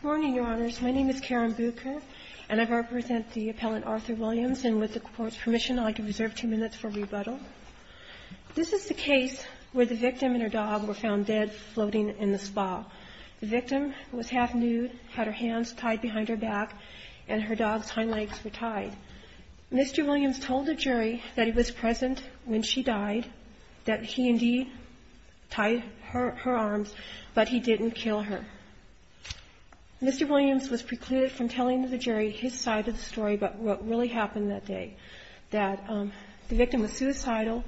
Good morning, Your Honors. My name is Karen Bucher, and I represent the appellant Arthur Williams. And with the Court's permission, I'd like to reserve two minutes for rebuttal. This is the case where the victim and her dog were found dead floating in the spa. The victim was half-nude, had her hands tied behind her back, and her dog's hind legs were tied. Mr. Williams told the jury that he was present when she died, that he indeed tied her arms, but he didn't kill her. Mr. Williams was precluded from telling the jury his side of the story, but what really happened that day, that the victim was suicidal,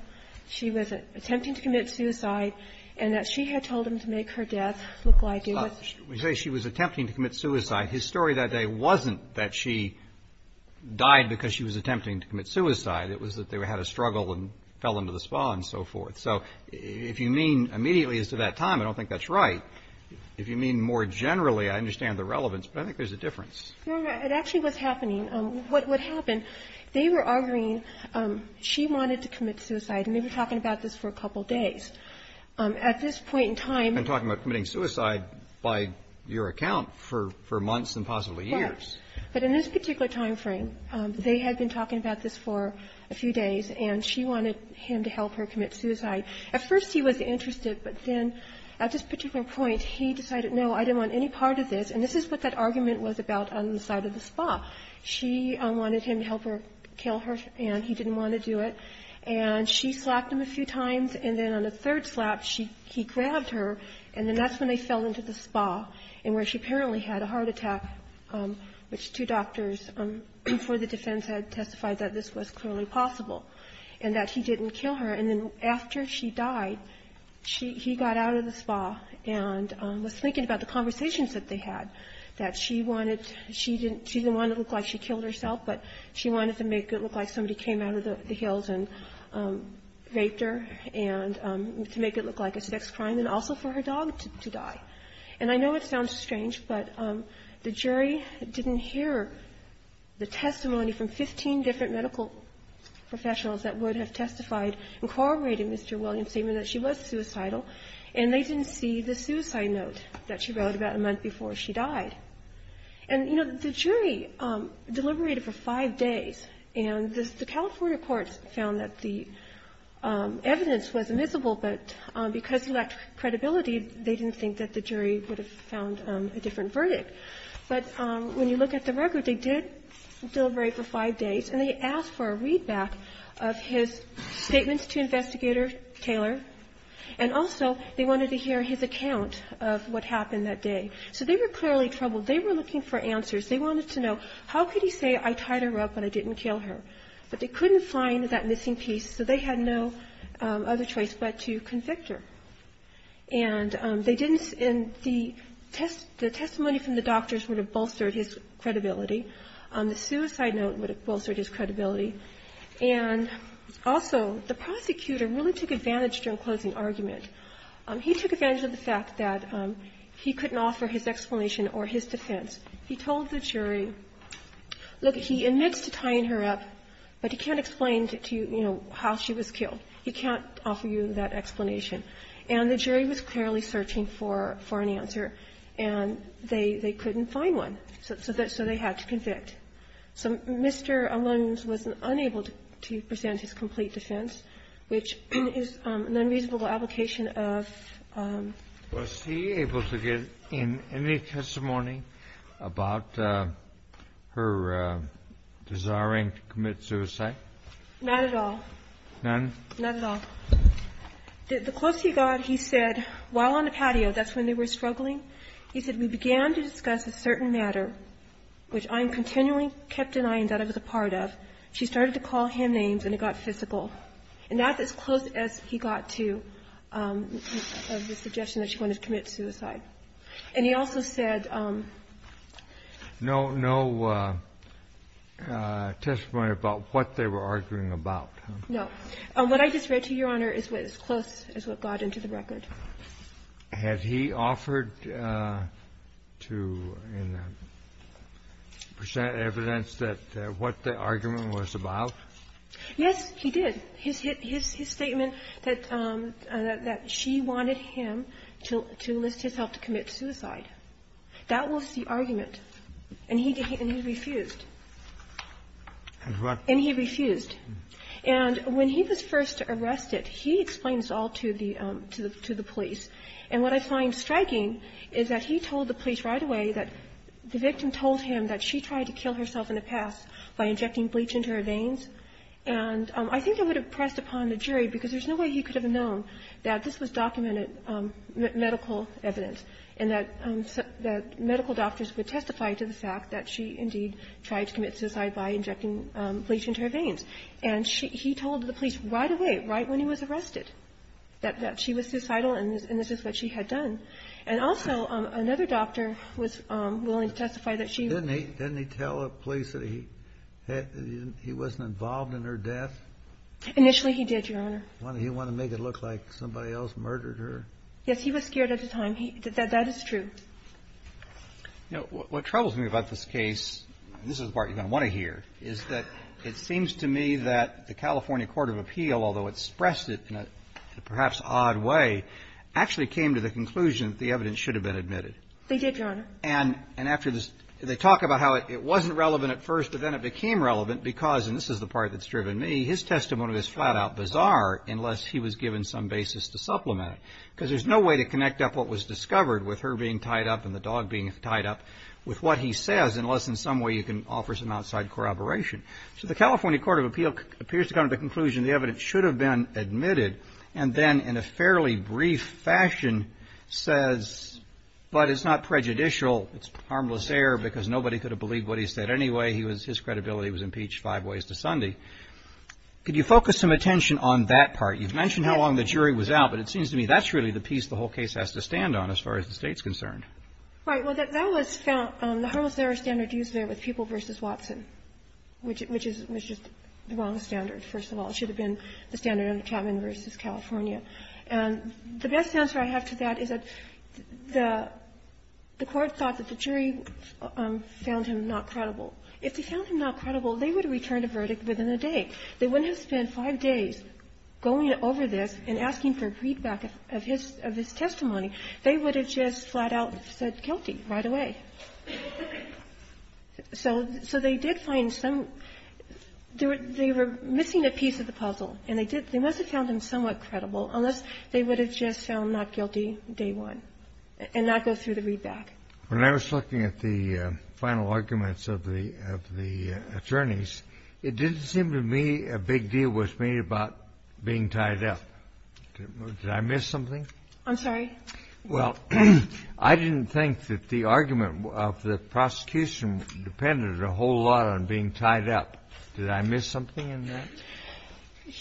she was attempting to commit suicide, and that she had told him to make her death look like it was her own. Roberts, we say she was attempting to commit suicide. His story that day wasn't that she died because she was attempting to commit suicide. It was that they had a struggle and fell into the spa and so forth. So if you mean immediately as to that time, I don't think that's right. If you mean more generally, I understand the relevance, but I think there's a difference. No, no. It actually was happening. What happened, they were arguing she wanted to commit suicide, and they were talking about this for a couple of days. At this point in time --- And talking about committing suicide by your account for months and possibly years. Right. But in this particular time frame, they had been talking about this for a few days, and she wanted him to help her commit suicide. At first he was interested, but then at this particular point, he decided, no, I didn't want any part of this. And this is what that argument was about on the side of the spa. She wanted him to help her kill her, and he didn't want to do it. And she slapped him a few times, and then on the third slap, she --- he grabbed her, and then that's when they fell into the spa, and where she apparently had a heart attack, which two doctors for the defense had testified that this was clearly possible. And that he didn't kill her. And then after she died, she -- he got out of the spa and was thinking about the conversations that they had, that she wanted to -- she didn't want to look like she killed herself, but she wanted to make it look like somebody came out of the hills and raped her, and to make it look like a sex crime, and also for her dog to die. And I know it sounds strange, but the jury didn't hear the testimony from 15 different medical professionals that would have testified and corroborated Mr. Williams' statement that she was suicidal, and they didn't see the suicide note that she wrote about a month before she died. And, you know, the jury deliberated for five days, and the California courts found that the evidence was admissible, but because of lack of credibility, they didn't think that the jury would have found a different verdict. But when you look at the record, they did deliberate for five days, and they asked for a readback of his statements to Investigator Taylor, and also they wanted to hear his account of what happened that day. So they were clearly troubled. They were looking for answers. They wanted to know, how could he say, I tied her up and I didn't kill her? But they couldn't find that missing piece, so they had no other choice but to convict her. And they didn't see the testimony from the doctors would have bolstered his credibility. The suicide note would have bolstered his credibility. And also, the prosecutor really took advantage during closing argument. He took advantage of the fact that he couldn't offer his explanation or his defense. He told the jury, look, he admits to tying her up, but he can't explain to you, you know, how she was killed. He can't offer you that explanation. And the jury was clearly searching for an answer, and they couldn't find one. So they had to convict. So Mr. Allones was unable to present his complete defense, which is an unreasonable application of ---- Kennedy. Was he able to give any testimony about her desiring to commit suicide? Not at all. None? Not at all. The close he got, he said, while on the patio, that's when they were struggling, he said, we began to discuss a certain matter, which I continually kept denying that I was a part of. She started to call him names, and it got physical. And that's as close as he got to the suggestion that she wanted to commit suicide. And he also said ---- No, no testimony about what they were arguing about? No. What I just read to you, Your Honor, is as close as what got into the record. Had he offered to present evidence that what the argument was about? Yes, he did. His statement that she wanted him to enlist his help to commit suicide, that was the argument, and he refused. And what ---- And he refused. And when he was first arrested, he explained this all to the police. And what I find striking is that he told the police right away that the victim told him that she tried to kill herself in the past by injecting bleach into her veins. And I think it would have pressed upon the jury, because there's no way he could have known that this was documented medical evidence and that medical doctors would testify to the fact that she, indeed, tried to commit suicide by injecting bleach into her veins. And he told the police right away, right when he was arrested, that she was suicidal and this is what she had done. And also, another doctor was willing to testify that she ---- Didn't he tell the police that he wasn't involved in her death? Initially, he did, Your Honor. He wanted to make it look like somebody else murdered her. Yes, he was scared at the time. That is true. You know, what troubles me about this case, and this is the part you're going to want to hear, is that it seems to me that the California Court of Appeal, although it expressed it in a perhaps odd way, actually came to the conclusion that the evidence should have been admitted. They did, Your Honor. And after this, they talk about how it wasn't relevant at first, but then it became relevant because, and this is the part that's driven me, his testimony was flat-out bizarre unless he was given some basis to supplement it, because there's no way to tie it up and the dog being tied up with what he says unless in some way you can offer some outside corroboration. So the California Court of Appeal appears to come to the conclusion the evidence should have been admitted, and then in a fairly brief fashion says, but it's not prejudicial, it's harmless error because nobody could have believed what he said anyway, his credibility was impeached five ways to Sunday. Could you focus some attention on that part? You've mentioned how long the jury was out, but it seems to me that's really the whole case has to stand on as far as the State's concerned. Right. Well, that was found, the harmless error standard used there with People v. Watson, which is just the wrong standard, first of all. It should have been the standard under Chapman v. California. And the best answer I have to that is that the Court thought that the jury found him not credible. If they found him not credible, they would have returned a verdict within a day. They wouldn't have spent five days going over this and asking for a readback of his testimony. They would have just flat-out said guilty right away. So they did find some – they were missing a piece of the puzzle. And they did – they must have found him somewhat credible, unless they would have just found not guilty day one and not go through the readback. When I was looking at the final arguments of the attorneys, it didn't seem to me a big deal was made about being tied up. Did I miss something? I'm sorry? Well, I didn't think that the argument of the prosecution depended a whole lot on being tied up. Did I miss something in that?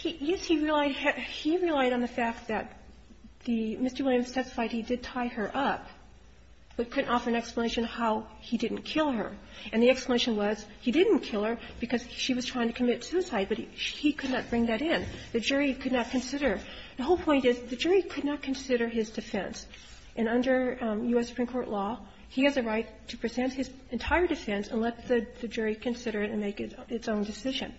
Yes, he relied – he relied on the fact that the – Mr. Williams testified he did tie her up, but couldn't offer an explanation how he didn't kill her. And the explanation was he didn't kill her because she was trying to commit suicide, but he could not bring that in. The jury could not consider. The whole point is the jury could not consider his defense. And under U.S. Supreme Court law, he has a right to present his entire defense and let the jury consider it and make its own decision.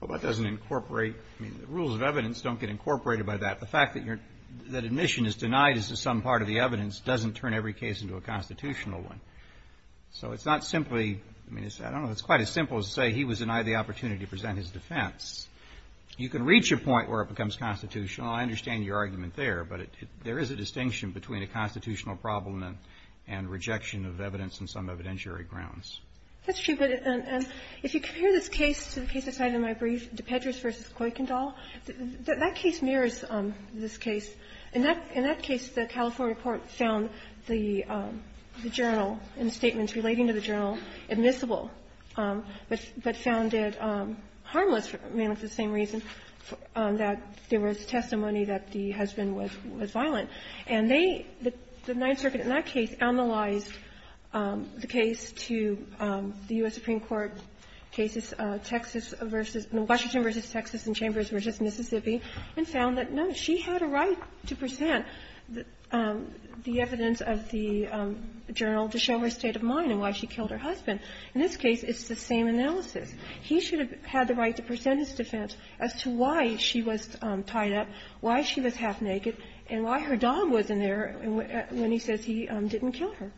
Well, that doesn't incorporate – I mean, the rules of evidence don't get incorporated by that. The fact that your – that admission is denied as to some part of the evidence doesn't turn every case into a constitutional one. So it's not simply – I mean, it's – I don't know. It's quite as simple as to say he was denied the opportunity to present his defense. You can reach a point where it becomes constitutional. I understand your argument there, but there is a distinction between a constitutional problem and rejection of evidence on some evidentiary grounds. That's true. But if you compare this case to the case I cited in my brief, DePedras v. Kuykendall, that case mirrors this case. In that case, the California court found the journal and statements relating to the journal admissible, but found it harmless. I mean, it's the same reason that there was testimony that the husband was violent. And they – the Ninth Circuit in that case analyzed the case to the U.S. Supreme Court cases, Texas v. – Washington v. Texas and Chambers v. Mississippi, and found that, no, she had a right to present the evidence of the journal to show her state of mind and why she killed her husband. In this case, it's the same analysis. He should have had the right to present his defense as to why she was tied up, why she was half-naked, and why her dog wasn't there when he says he didn't kill her.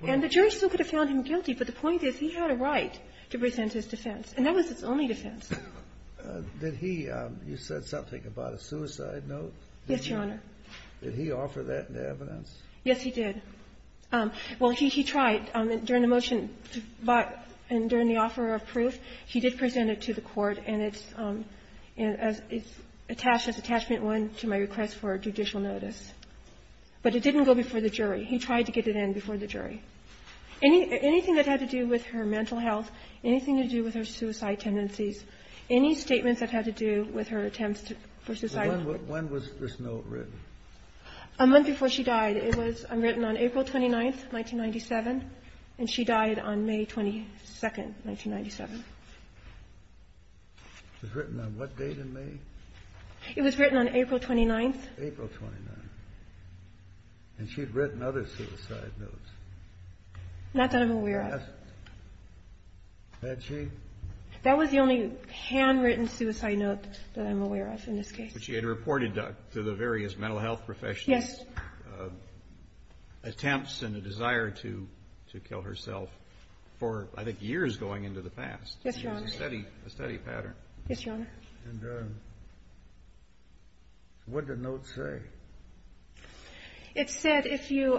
And the jury still could have found him guilty, but the point is he had a right to present his defense, and that was his only defense. Did he – you said something about a suicide note? Yes, Your Honor. Did he offer that evidence? Yes, he did. Well, he tried. During the motion to – and during the offer of proof, he did present it to the court, and it's attached as attachment one to my request for judicial notice. But it didn't go before the jury. He tried to get it in before the jury. Anything that had to do with her mental health, anything to do with her suicide tendencies, any statements that had to do with her attempts to – for suicide. When was this note written? A month before she died. It was written on April 29th, 1997, and she died on May 22nd, 1997. It was written on what date in May? It was written on April 29th. April 29th. And she'd written other suicide notes. Not that I'm aware of. Had she? That was the only handwritten suicide note that I'm aware of in this case. But she had reported to the various mental health professionals. Yes. Attempts and a desire to kill herself for, I think, years going into the past. Yes, Your Honor. It was a steady pattern. Yes, Your Honor. And what did the note say? It said if you're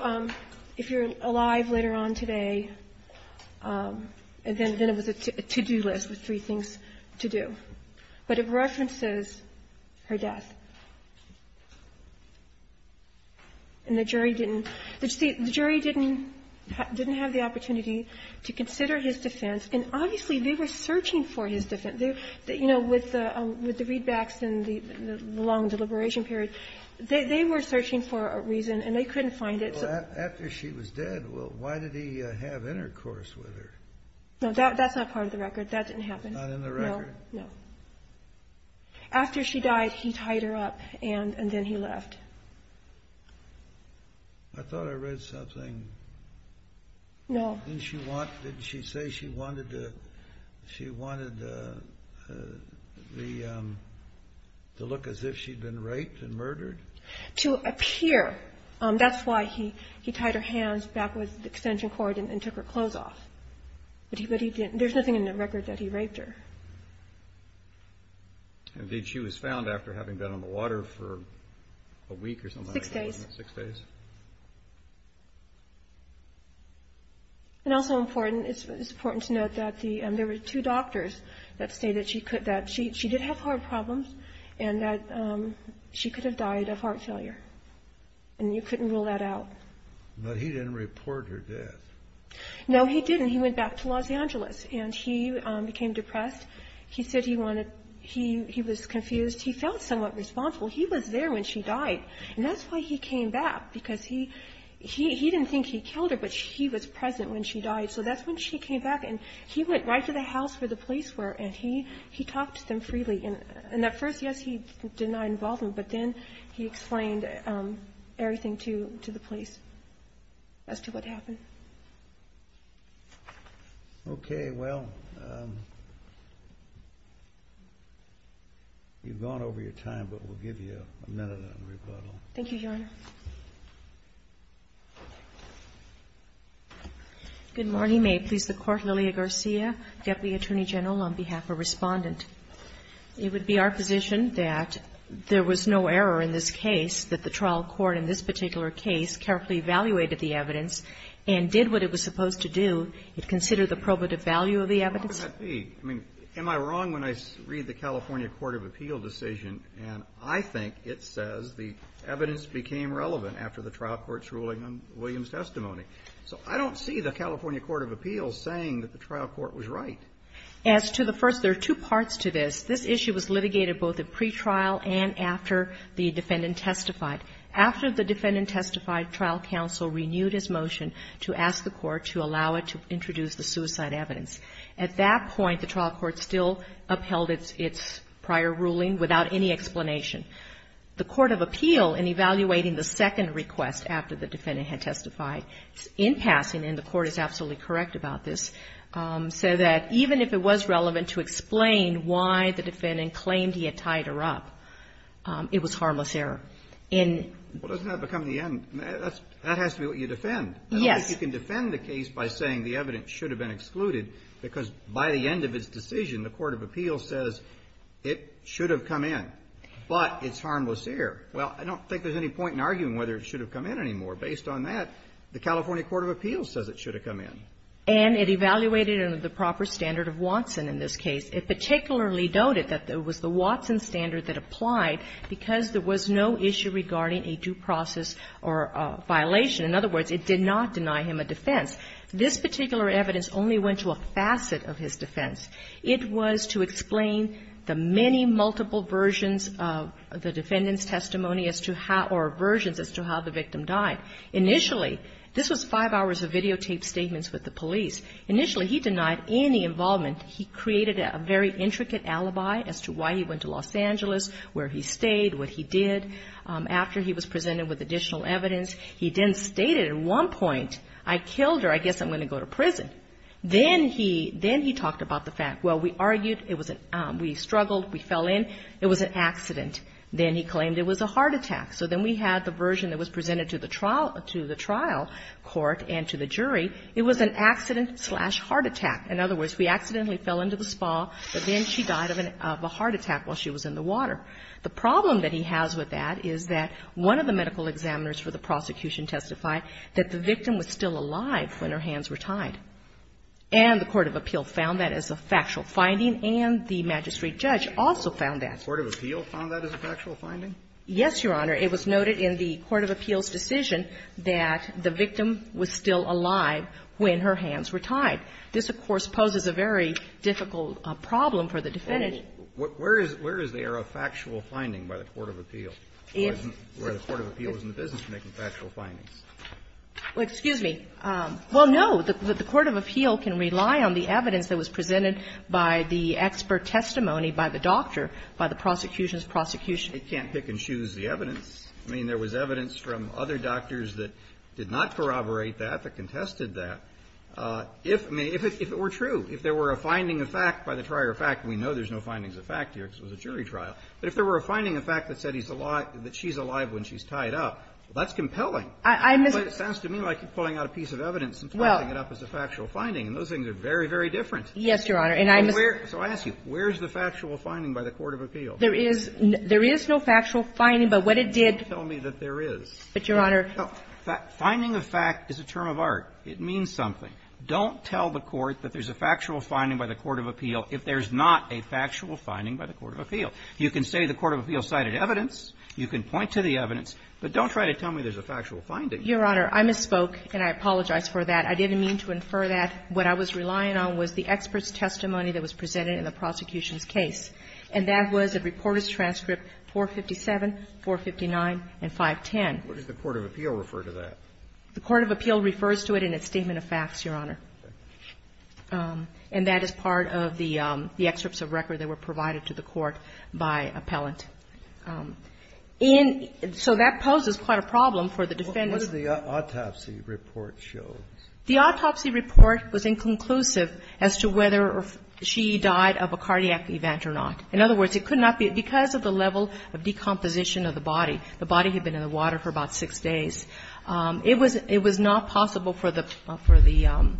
alive later on today, and then it was a to-do list with three things to do. But it references her death. And the jury didn't – the jury didn't have the opportunity to consider his defense. And obviously, they were searching for his defense. You know, with the readbacks and the long deliberation period, they were searching for a reason, and they couldn't find it. Well, after she was dead, well, why did he have intercourse with her? No, that's not part of the record. That didn't happen. Not in the record. No, no. After she died, he tied her up, and then he left. I thought I read something. No. Didn't she say she wanted to look as if she'd been raped and murdered? To appear. That's why he tied her hands back with extension cord and took her clothes off. But he didn't – there's nothing in the record that he raped her. And did she was found after having been on the water for a week or something like that? Six days. Six days. And also important – it's important to note that there were two doctors that say that she could – that she did have heart problems and that she could have died of heart failure. And you couldn't rule that out. But he didn't report her death. No, he didn't. He went back to Los Angeles, and he became depressed. He said he wanted – he was confused. He felt somewhat responsible. He was there when she died. And that's why he came back, because he didn't think he killed her, but he was present when she died. So that's when she came back. And he went right to the house where the police were, and he talked to them freely. And at first, yes, he did not involve them, but then he explained everything to the police as to what happened. Okay. Well, you've gone over your time, but we'll give you a minute on rebuttal. Thank you, Your Honor. Good morning. May it please the Court, Lilia Garcia, Deputy Attorney General, on behalf of Respondent. It would be our position that there was no error in this case, that the trial court in this particular case carefully evaluated the evidence and did what it was supposed to do, and considered the probative value of the evidence. Well, how could that be? I mean, am I wrong when I read the California Court of Appeal decision, and I think it says the evidence became relevant after the trial court's ruling on Williams' testimony. So I don't see the California Court of Appeals saying that the trial court was right. As to the first, there are two parts to this. This issue was litigated both at pretrial and after the defendant testified. After the defendant testified, trial counsel renewed his motion to ask the court to allow it to introduce the suicide evidence. At that point, the trial court still upheld its prior ruling without any explanation. The Court of Appeal, in evaluating the second request after the defendant had testified, in passing, and the court is absolutely correct about this, said that even if it was relevant to explain why the defendant claimed he had tied her up, it was harmless error. And… Well, doesn't that become the end? That has to be what you defend. Yes. You can defend the case by saying the evidence should have been excluded, because by the end of its decision, the Court of Appeal says it should have come in, but it's harmless error. Well, I don't think there's any point in arguing whether it should have come in anymore. Based on that, the California Court of Appeals says it should have come in. And it evaluated under the proper standard of Watson in this case. It particularly noted that it was the Watson standard that applied because there was no issue regarding a due process or violation. In other words, it did not deny him a defense. This particular evidence only went to a facet of his defense. It was to explain the many multiple versions of the defendant's testimony as to how the victim died. Initially, this was five hours of videotaped statements with the police. Initially, he denied any involvement. He created a very intricate alibi as to why he went to Los Angeles, where he stayed, what he did, after he was presented with additional evidence. He then stated at one point, I killed her, I guess I'm going to go to prison. Then he talked about the fact, well, we argued, we struggled, we fell in, it was an accident. Then he claimed it was a heart attack. So then we had the version that was presented to the trial court and to the jury. It was an accident-slash-heart attack. In other words, we accidentally fell into the spa, but then she died of a heart attack while she was in the water. The problem that he has with that is that one of the medical examiners for the prosecution testified that the victim was still alive when her hands were tied. And the court of appeal found that as a factual finding, and the magistrate judge also found that. The court of appeal found that as a factual finding? Yes, Your Honor. It was noted in the court of appeal's decision that the victim was still alive when her hands were tied. This, of course, poses a very difficult problem for the defendant. Where is there a factual finding by the court of appeal where the court of appeal is in the business of making factual findings? Well, excuse me. Well, no. The court of appeal can rely on the evidence that was presented by the expert testimony by the doctor, by the prosecution's prosecution. It can't pick and choose the evidence. I mean, there was evidence from other doctors that did not corroborate that, that contested that. If it were true, if there were a finding of fact by the trier of fact, and we know there's no findings of fact here because it was a jury trial, but if there were a finding of fact that said he's alive, that she's alive when she's tied up, that's compelling. It sounds to me like you're pulling out a piece of evidence and placing it up as a factual finding, and those things are very, very different. Yes, Your Honor. And I'm just going to ask you, where is the factual finding by the court of appeal? There is no factual finding, but what it did to tell me that there is. But, Your Honor. Finding of fact is a term of art. It means something. Don't tell the court that there's a factual finding by the court of appeal if there's not a factual finding by the court of appeal. You can say the court of appeal cited evidence. You can point to the evidence. But don't try to tell me there's a factual finding. Your Honor, I misspoke, and I apologize for that. I didn't mean to infer that. What I was relying on was the expert's testimony that was presented in the prosecution's case, and that was a reporter's transcript 457, 459, and 510. What does the court of appeal refer to that? The court of appeal refers to it in its statement of facts, Your Honor. And that is part of the excerpts of record that were provided to the court by appellant. And so that poses quite a problem for the defense. What does the autopsy report show? The autopsy report was inconclusive as to whether she died of a cardiac event or not. In other words, it could not be because of the level of decomposition of the body. The body had been in the water for about six days. It was not possible for the –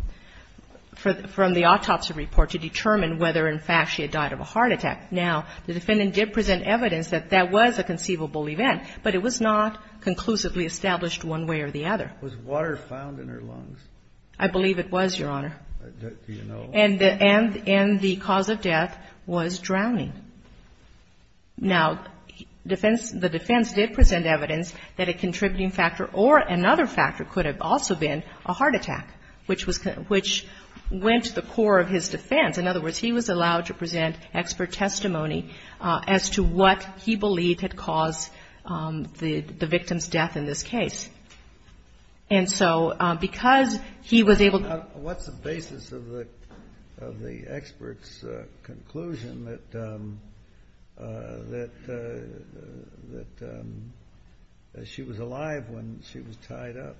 from the autopsy report to determine whether, in fact, she had died of a heart attack. Now, the defendant did present evidence that that was a conceivable event, but it was not conclusively established one way or the other. Was water found in her lungs? I believe it was, Your Honor. Do you know? And the cause of death was drowning. Now, defense – the defense did present evidence that a contributing factor or another factor could have also been a heart attack, which was – which went to the core of his defense. In other words, he was allowed to present expert testimony as to what he believed had caused the victim's death in this case. And so because he was able to – What's the basis of the expert's conclusion that she was alive when she was tied up?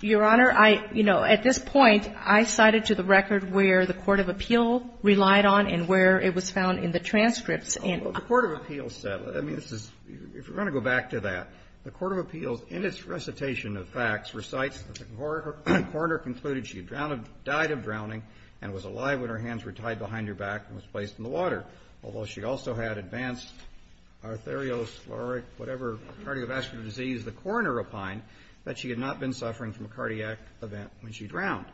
Your Honor, I – you know, at this point, I cited to the record where the court of appeal relied on and where it was found in the transcripts. Well, the court of appeals said – I mean, this is – if you want to go back to that, the court of appeals, in its recitation of facts, recites that the coroner concluded she had drowned – died of drowning and was alive when her hands were tied behind her back and was placed in the water, although she also had advanced arterioscleric, whatever cardiovascular disease the coroner opined that she had not been suffering from a cardiac event when she drowned.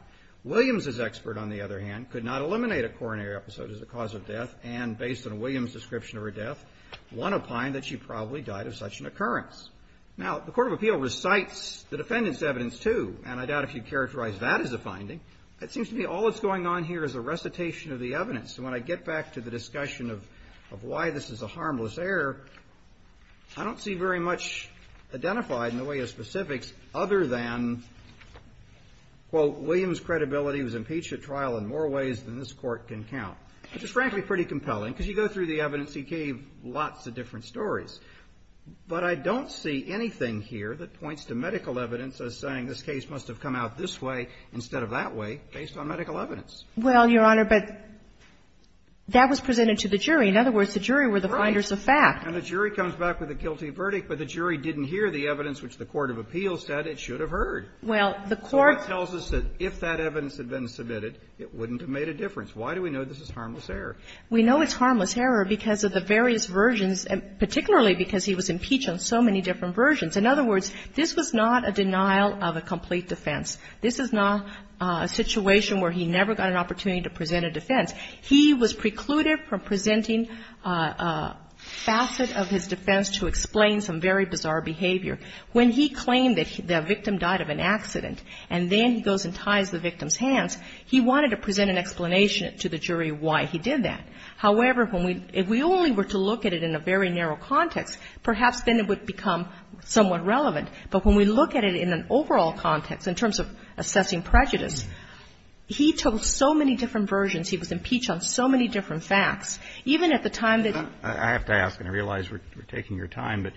Williams's expert, on the other hand, could not eliminate a coronary episode as a cause of death and, based on Williams's description of her death, one opined that she probably died of such an occurrence. Now, the court of appeal recites the defendant's evidence, too, and I doubt if you'd characterize that as a finding. It seems to me all that's going on here is a recitation of the evidence. And when I get back to the discussion of why this is a harmless error, I don't see very much identified in the way of specifics other than, quote, William's credibility was impeached at trial in more ways than this Court can count, which is frankly pretty compelling, because you go through the evidence. He gave lots of different stories. But I don't see anything here that points to medical evidence as saying this case must have come out this way instead of that way based on medical evidence. Well, Your Honor, but that was presented to the jury. In other words, the jury were the finders of fact. Right. And the jury comes back with a guilty verdict, but the jury didn't hear the evidence which the court of appeal said it should have heard. Well, the court – The court tells us that if that evidence had been submitted, it wouldn't have made a difference. Why do we know this is harmless error? We know it's harmless error because of the various versions, particularly because he was impeached on so many different versions. In other words, this was not a denial of a complete defense. This is not a situation where he never got an opportunity to present a defense. He was precluded from presenting a facet of his defense to explain some very bizarre behavior. When he claimed that the victim died of an accident and then he goes and ties the victim's hands, he wanted to present an explanation to the jury why he did that. However, when we – if we only were to look at it in a very narrow context, perhaps then it would become somewhat relevant. But when we look at it in an overall context, in terms of assessing prejudice, he told so many different versions. He was impeached on so many different facts. Even at the time that he – But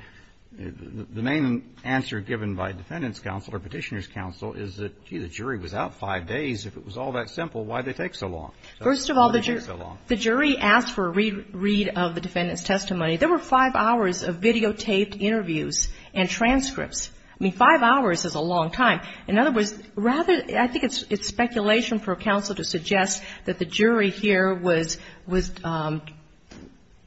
the main answer given by defendant's counsel or Petitioner's counsel is that, gee, the jury was out five days. If it was all that simple, why did it take so long? Why did it take so long? First of all, the jury asked for a re-read of the defendant's testimony. There were five hours of videotaped interviews and transcripts. I mean, five hours is a long time. In other words, rather – I think it's speculation for counsel to suggest that the jury here was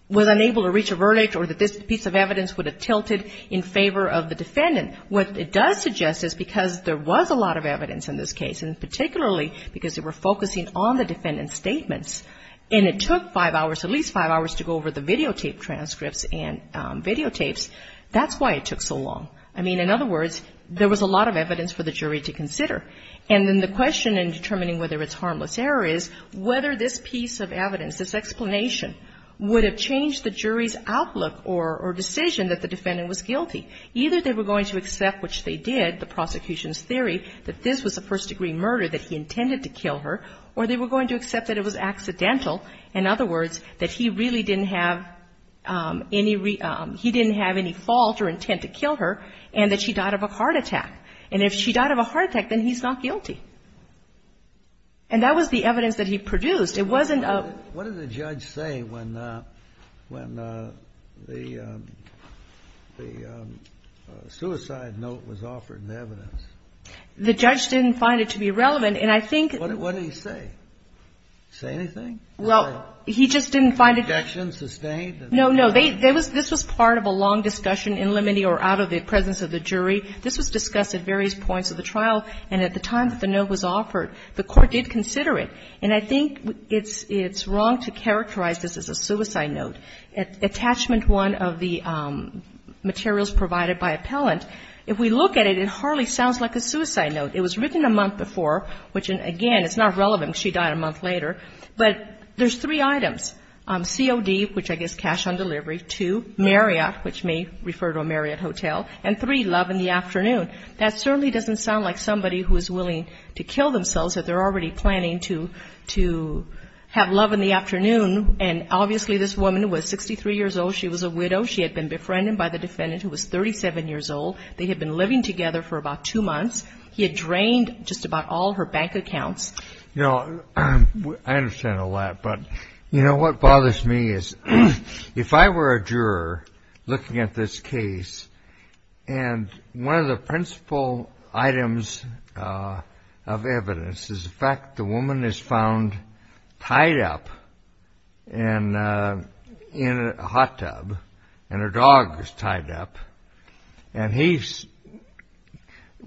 unable to reach a verdict or that this piece of evidence would have tilted in favor of the defendant. What it does suggest is because there was a lot of evidence in this case, and particularly because they were focusing on the defendant's statements, and it took five hours, at least five hours, to go over the videotaped transcripts and videotapes, that's why it took so long. I mean, in other words, there was a lot of evidence for the jury to consider. And then the question in determining whether it's harmless error is whether this piece of evidence, this explanation, would have changed the jury's outlook or decision that the defendant was guilty. Either they were going to accept, which they did, the prosecution's theory that this was a first-degree murder, that he intended to kill her, or they were going to accept that it was accidental. In other words, that he really didn't have any – he didn't have any fault or intent to kill her, and that she died of a heart attack. And if she died of a heart attack, then he's not guilty. And that was the evidence that he produced. It wasn't a – What did the judge say when the suicide note was offered in the evidence? The judge didn't find it to be relevant, and I think – What did he say? Say anything? Well, he just didn't find it – Objection sustained? No, no. This was part of a long discussion in limine or out of the presence of the jury. This was discussed at various points of the trial, and at the time that the note was offered, the Court did consider it. And I think it's wrong to characterize this as a suicide note. Attachment 1 of the materials provided by appellant, if we look at it, it hardly sounds like a suicide note. It was written a month before, which, again, it's not relevant because she died a month later, but there's three items. COD, which I guess cash on delivery, two, Marriott, which may refer to a Marriott hotel, and three, love in the afternoon. That certainly doesn't sound like somebody who is willing to kill themselves if they're already planning to have love in the afternoon. And obviously this woman was 63 years old. She was a widow. She had been befriended by the defendant, who was 37 years old. They had been living together for about two months. He had drained just about all her bank accounts. You know, I understand all that, but, you know, what bothers me is if I were a juror looking at this case, and one of the principal items of evidence is the fact the woman is found tied up in a hot tub, and her dog was tied up. And he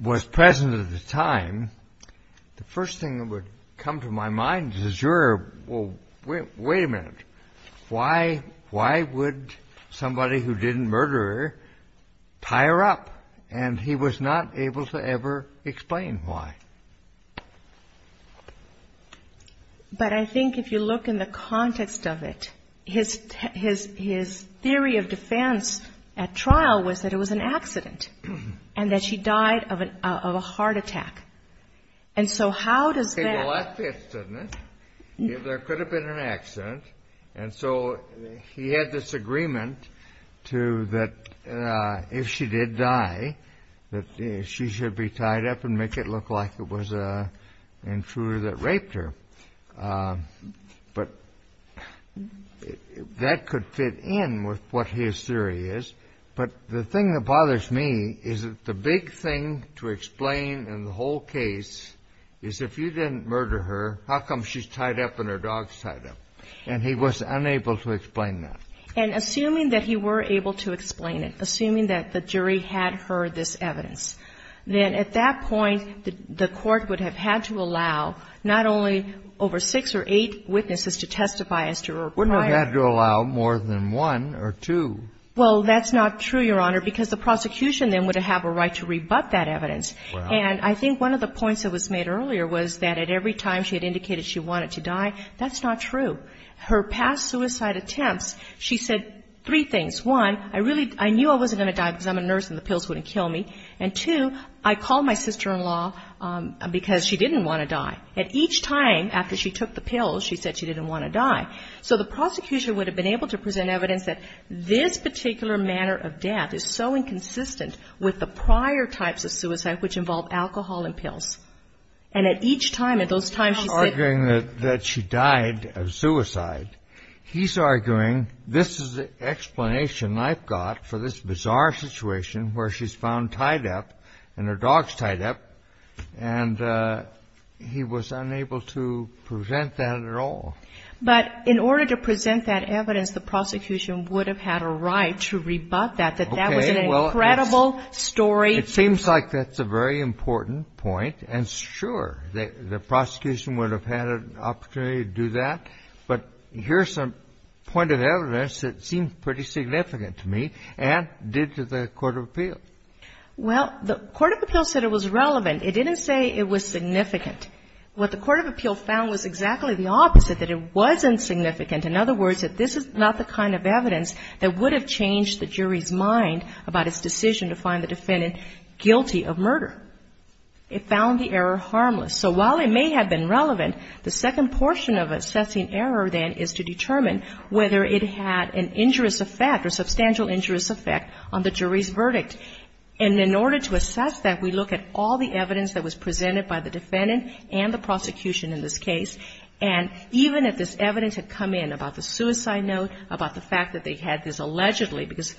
was present at the time. The first thing that would come to my mind as a juror, well, wait a minute. Why would somebody who didn't murder her tie her up? And he was not able to ever explain why. But I think if you look in the context of it, his theory of defense at trial was that it was an accident, and that she died of a heart attack. And so how does that? Well, that fits, doesn't it? There could have been an accident. And so he had this agreement to that if she did die, that she should be tied up and make it look like it was an intruder that raped her. But that could fit in with what his theory is. But the thing that bothers me is that the big thing to explain in the whole case is if you didn't murder her, how come she's tied up and her dog's tied up? And he was unable to explain that. And assuming that he were able to explain it, assuming that the jury had heard this evidence, then at that point the Court would have had to allow not only over six or eight witnesses to testify as to her crime. Wouldn't have had to allow more than one or two. Well, that's not true, Your Honor, because the prosecution then would have a right to rebut that evidence. And I think one of the points that was made earlier was that at every time she had indicated she wanted to die, that's not true. Her past suicide attempts, she said three things. One, I knew I wasn't going to die because I'm a nurse and the pills wouldn't kill me. And two, I called my sister-in-law because she didn't want to die. And each time after she took the pills, she said she didn't want to die. So the prosecution would have been able to present evidence that this particular manner of death is so inconsistent with the prior types of suicide which involved alcohol and pills. And at each time, at those times, she said that she died of suicide. He's arguing this is the explanation I've got for this bizarre situation where she's found tied up and her dog's tied up, and he was unable to present that at all. But in order to present that evidence, the prosecution would have had a right to rebut that, that that was an incredible story. It seems like that's a very important point. And sure, the prosecution would have had an opportunity to do that. But here's some point of evidence that seemed pretty significant to me and did to the court of appeal. Well, the court of appeal said it was relevant. It didn't say it was significant. What the court of appeal found was exactly the opposite, that it wasn't significant. In other words, that this is not the kind of evidence that would have changed the jury's mind about its decision to find the defendant guilty of murder. It found the error harmless. So while it may have been relevant, the second portion of assessing error, then, is to determine whether it had an injurious effect or substantial injurious effect on the jury's verdict. And in order to assess that, we look at all the evidence that was presented by the defendant and the prosecution in this case. And even if this evidence had come in about the suicide note, about the fact that they had this allegedly, because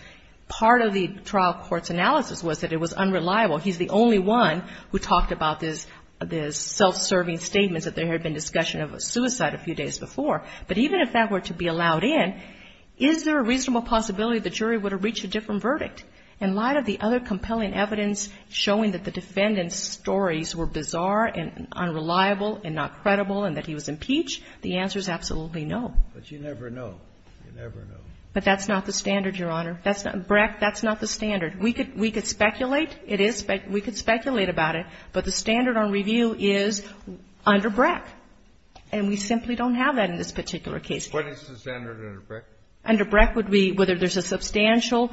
part of the trial court's analysis was that it was unreliable. He's the only one who talked about this self-serving statement that there had been discussion of suicide a few days before. But even if that were to be allowed in, is there a reasonable possibility the jury would have reached a different verdict? In light of the other compelling evidence showing that the defendant's stories were bizarre and unreliable and not credible and that he was impeached, the answer is absolutely no. But you never know. You never know. But that's not the standard, Your Honor. Breck, that's not the standard. We could speculate. It is. We could speculate about it. But the standard on review is under Breck. And we simply don't have that in this particular case. What is the standard under Breck? Under Breck would be whether there's a substantial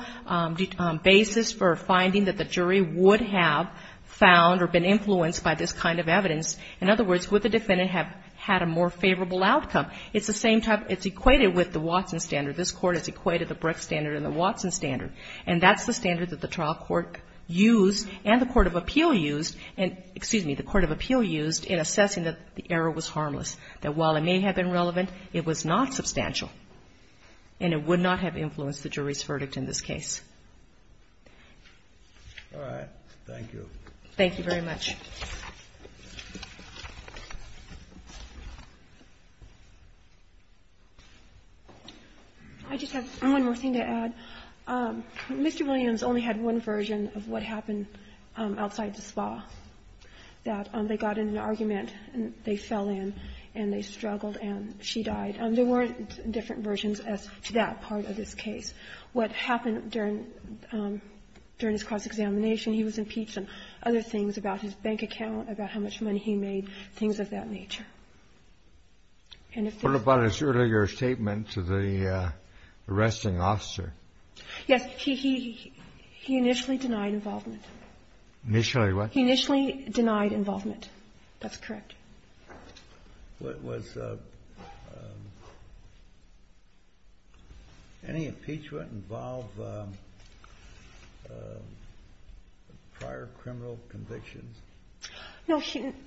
basis for finding that the jury would have found or been influenced by this kind of evidence. In other words, would the defendant have had a more favorable outcome? It's the same type. It's equated with the Watson standard. This Court has equated the Breck standard and the Watson standard. And that's the standard that the trial court used and the court of appeal used and the court of appeal used in assessing that the error was harmless, that while it may have been relevant, it was not substantial. And it would not have influenced the jury's verdict in this case. All right. Thank you. Thank you very much. I just have one more thing to add. Mr. Williams only had one version of what happened outside the spa, that they got in an argument and they fell in and they struggled and she died. There weren't different versions as to that part of this case. What happened during his cross-examination, he was impeached and other things about his bank account, about how much money he made, things of that nature. What about his earlier statement to the arresting officer? Yes. He initially denied involvement. Initially what? He initially denied involvement. That's correct. Any impeachment involved prior criminal convictions? No.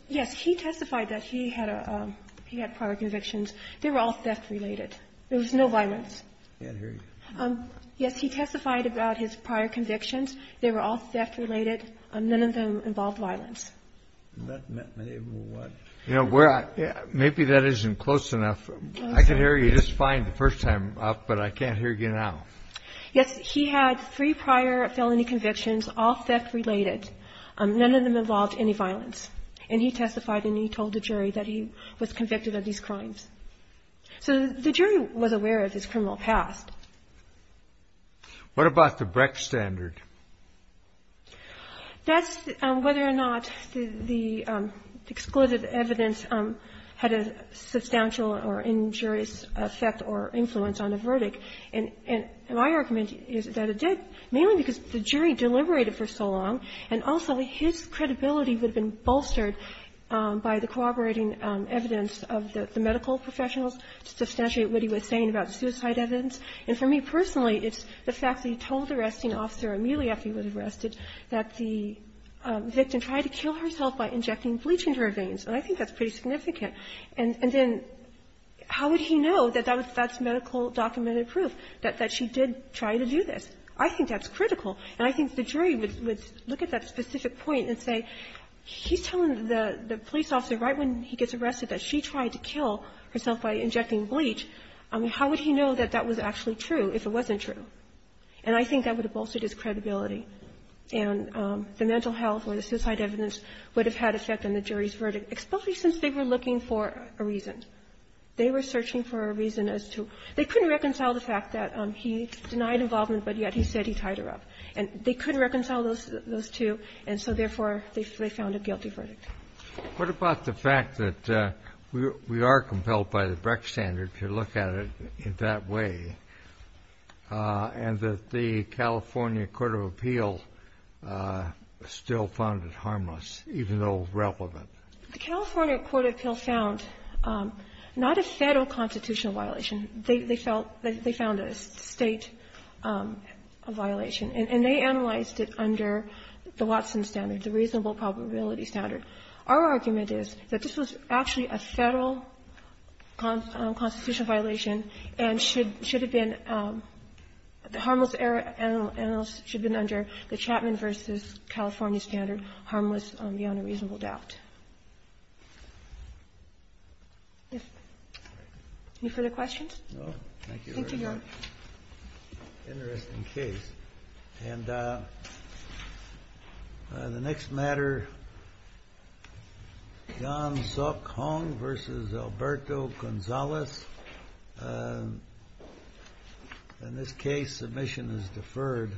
Yes. He testified that he had prior convictions. They were all theft-related. There was no violence. I can't hear you. Yes. He testified about his prior convictions. They were all theft-related. None of them involved violence. Maybe that isn't close enough. I can hear you just fine the first time up, but I can't hear you now. Yes. He had three prior felony convictions, all theft-related. None of them involved any violence. And he testified and he told the jury that he was convicted of these crimes. So the jury was aware of his criminal past. What about the Brecht standard? That's whether or not the exclusive evidence had a substantial or injurious effect or influence on the verdict. And my argument is that it did, mainly because the jury deliberated for so long, and also his credibility would have been bolstered by the corroborating evidence of the medical professionals to substantiate what he was saying about suicide evidence. And for me personally, it's the fact that he told the arresting officer immediately after he was arrested that the victim tried to kill herself by injecting bleach into her veins, and I think that's pretty significant. And then how would he know that that's medical documented proof, that she did try to do this? I think that's critical. And I think the jury would look at that specific point and say, he's telling the police officer right when he gets arrested that she tried to kill herself by injecting bleach. I mean, how would he know that that was actually true if it wasn't true? And I think that would have bolstered his credibility. And the mental health or the suicide evidence would have had an effect on the jury's verdict, especially since they were looking for a reason. They were searching for a reason as to they couldn't reconcile the fact that he denied involvement, but yet he said he tied her up. And they couldn't reconcile those two, and so therefore, they found a guilty verdict. What about the fact that we are compelled by the Brecht standard to look at it in that way, and that the California court of appeal still found it harmless, even though it's relevant? The California court of appeal found not a Federal constitutional violation. They felt that they found a State violation, and they analyzed it under the Watson standard, the reasonable probability standard. Our argument is that this was actually a Federal constitutional violation and should have been the harmless analysis should have been under the Chapman v. California standard, harmless beyond a reasonable doubt. Thank you, Your Honor. Interesting case. And the next matter, John Suk Hong v. Alberto Gonzalez. In this case, submission is deferred.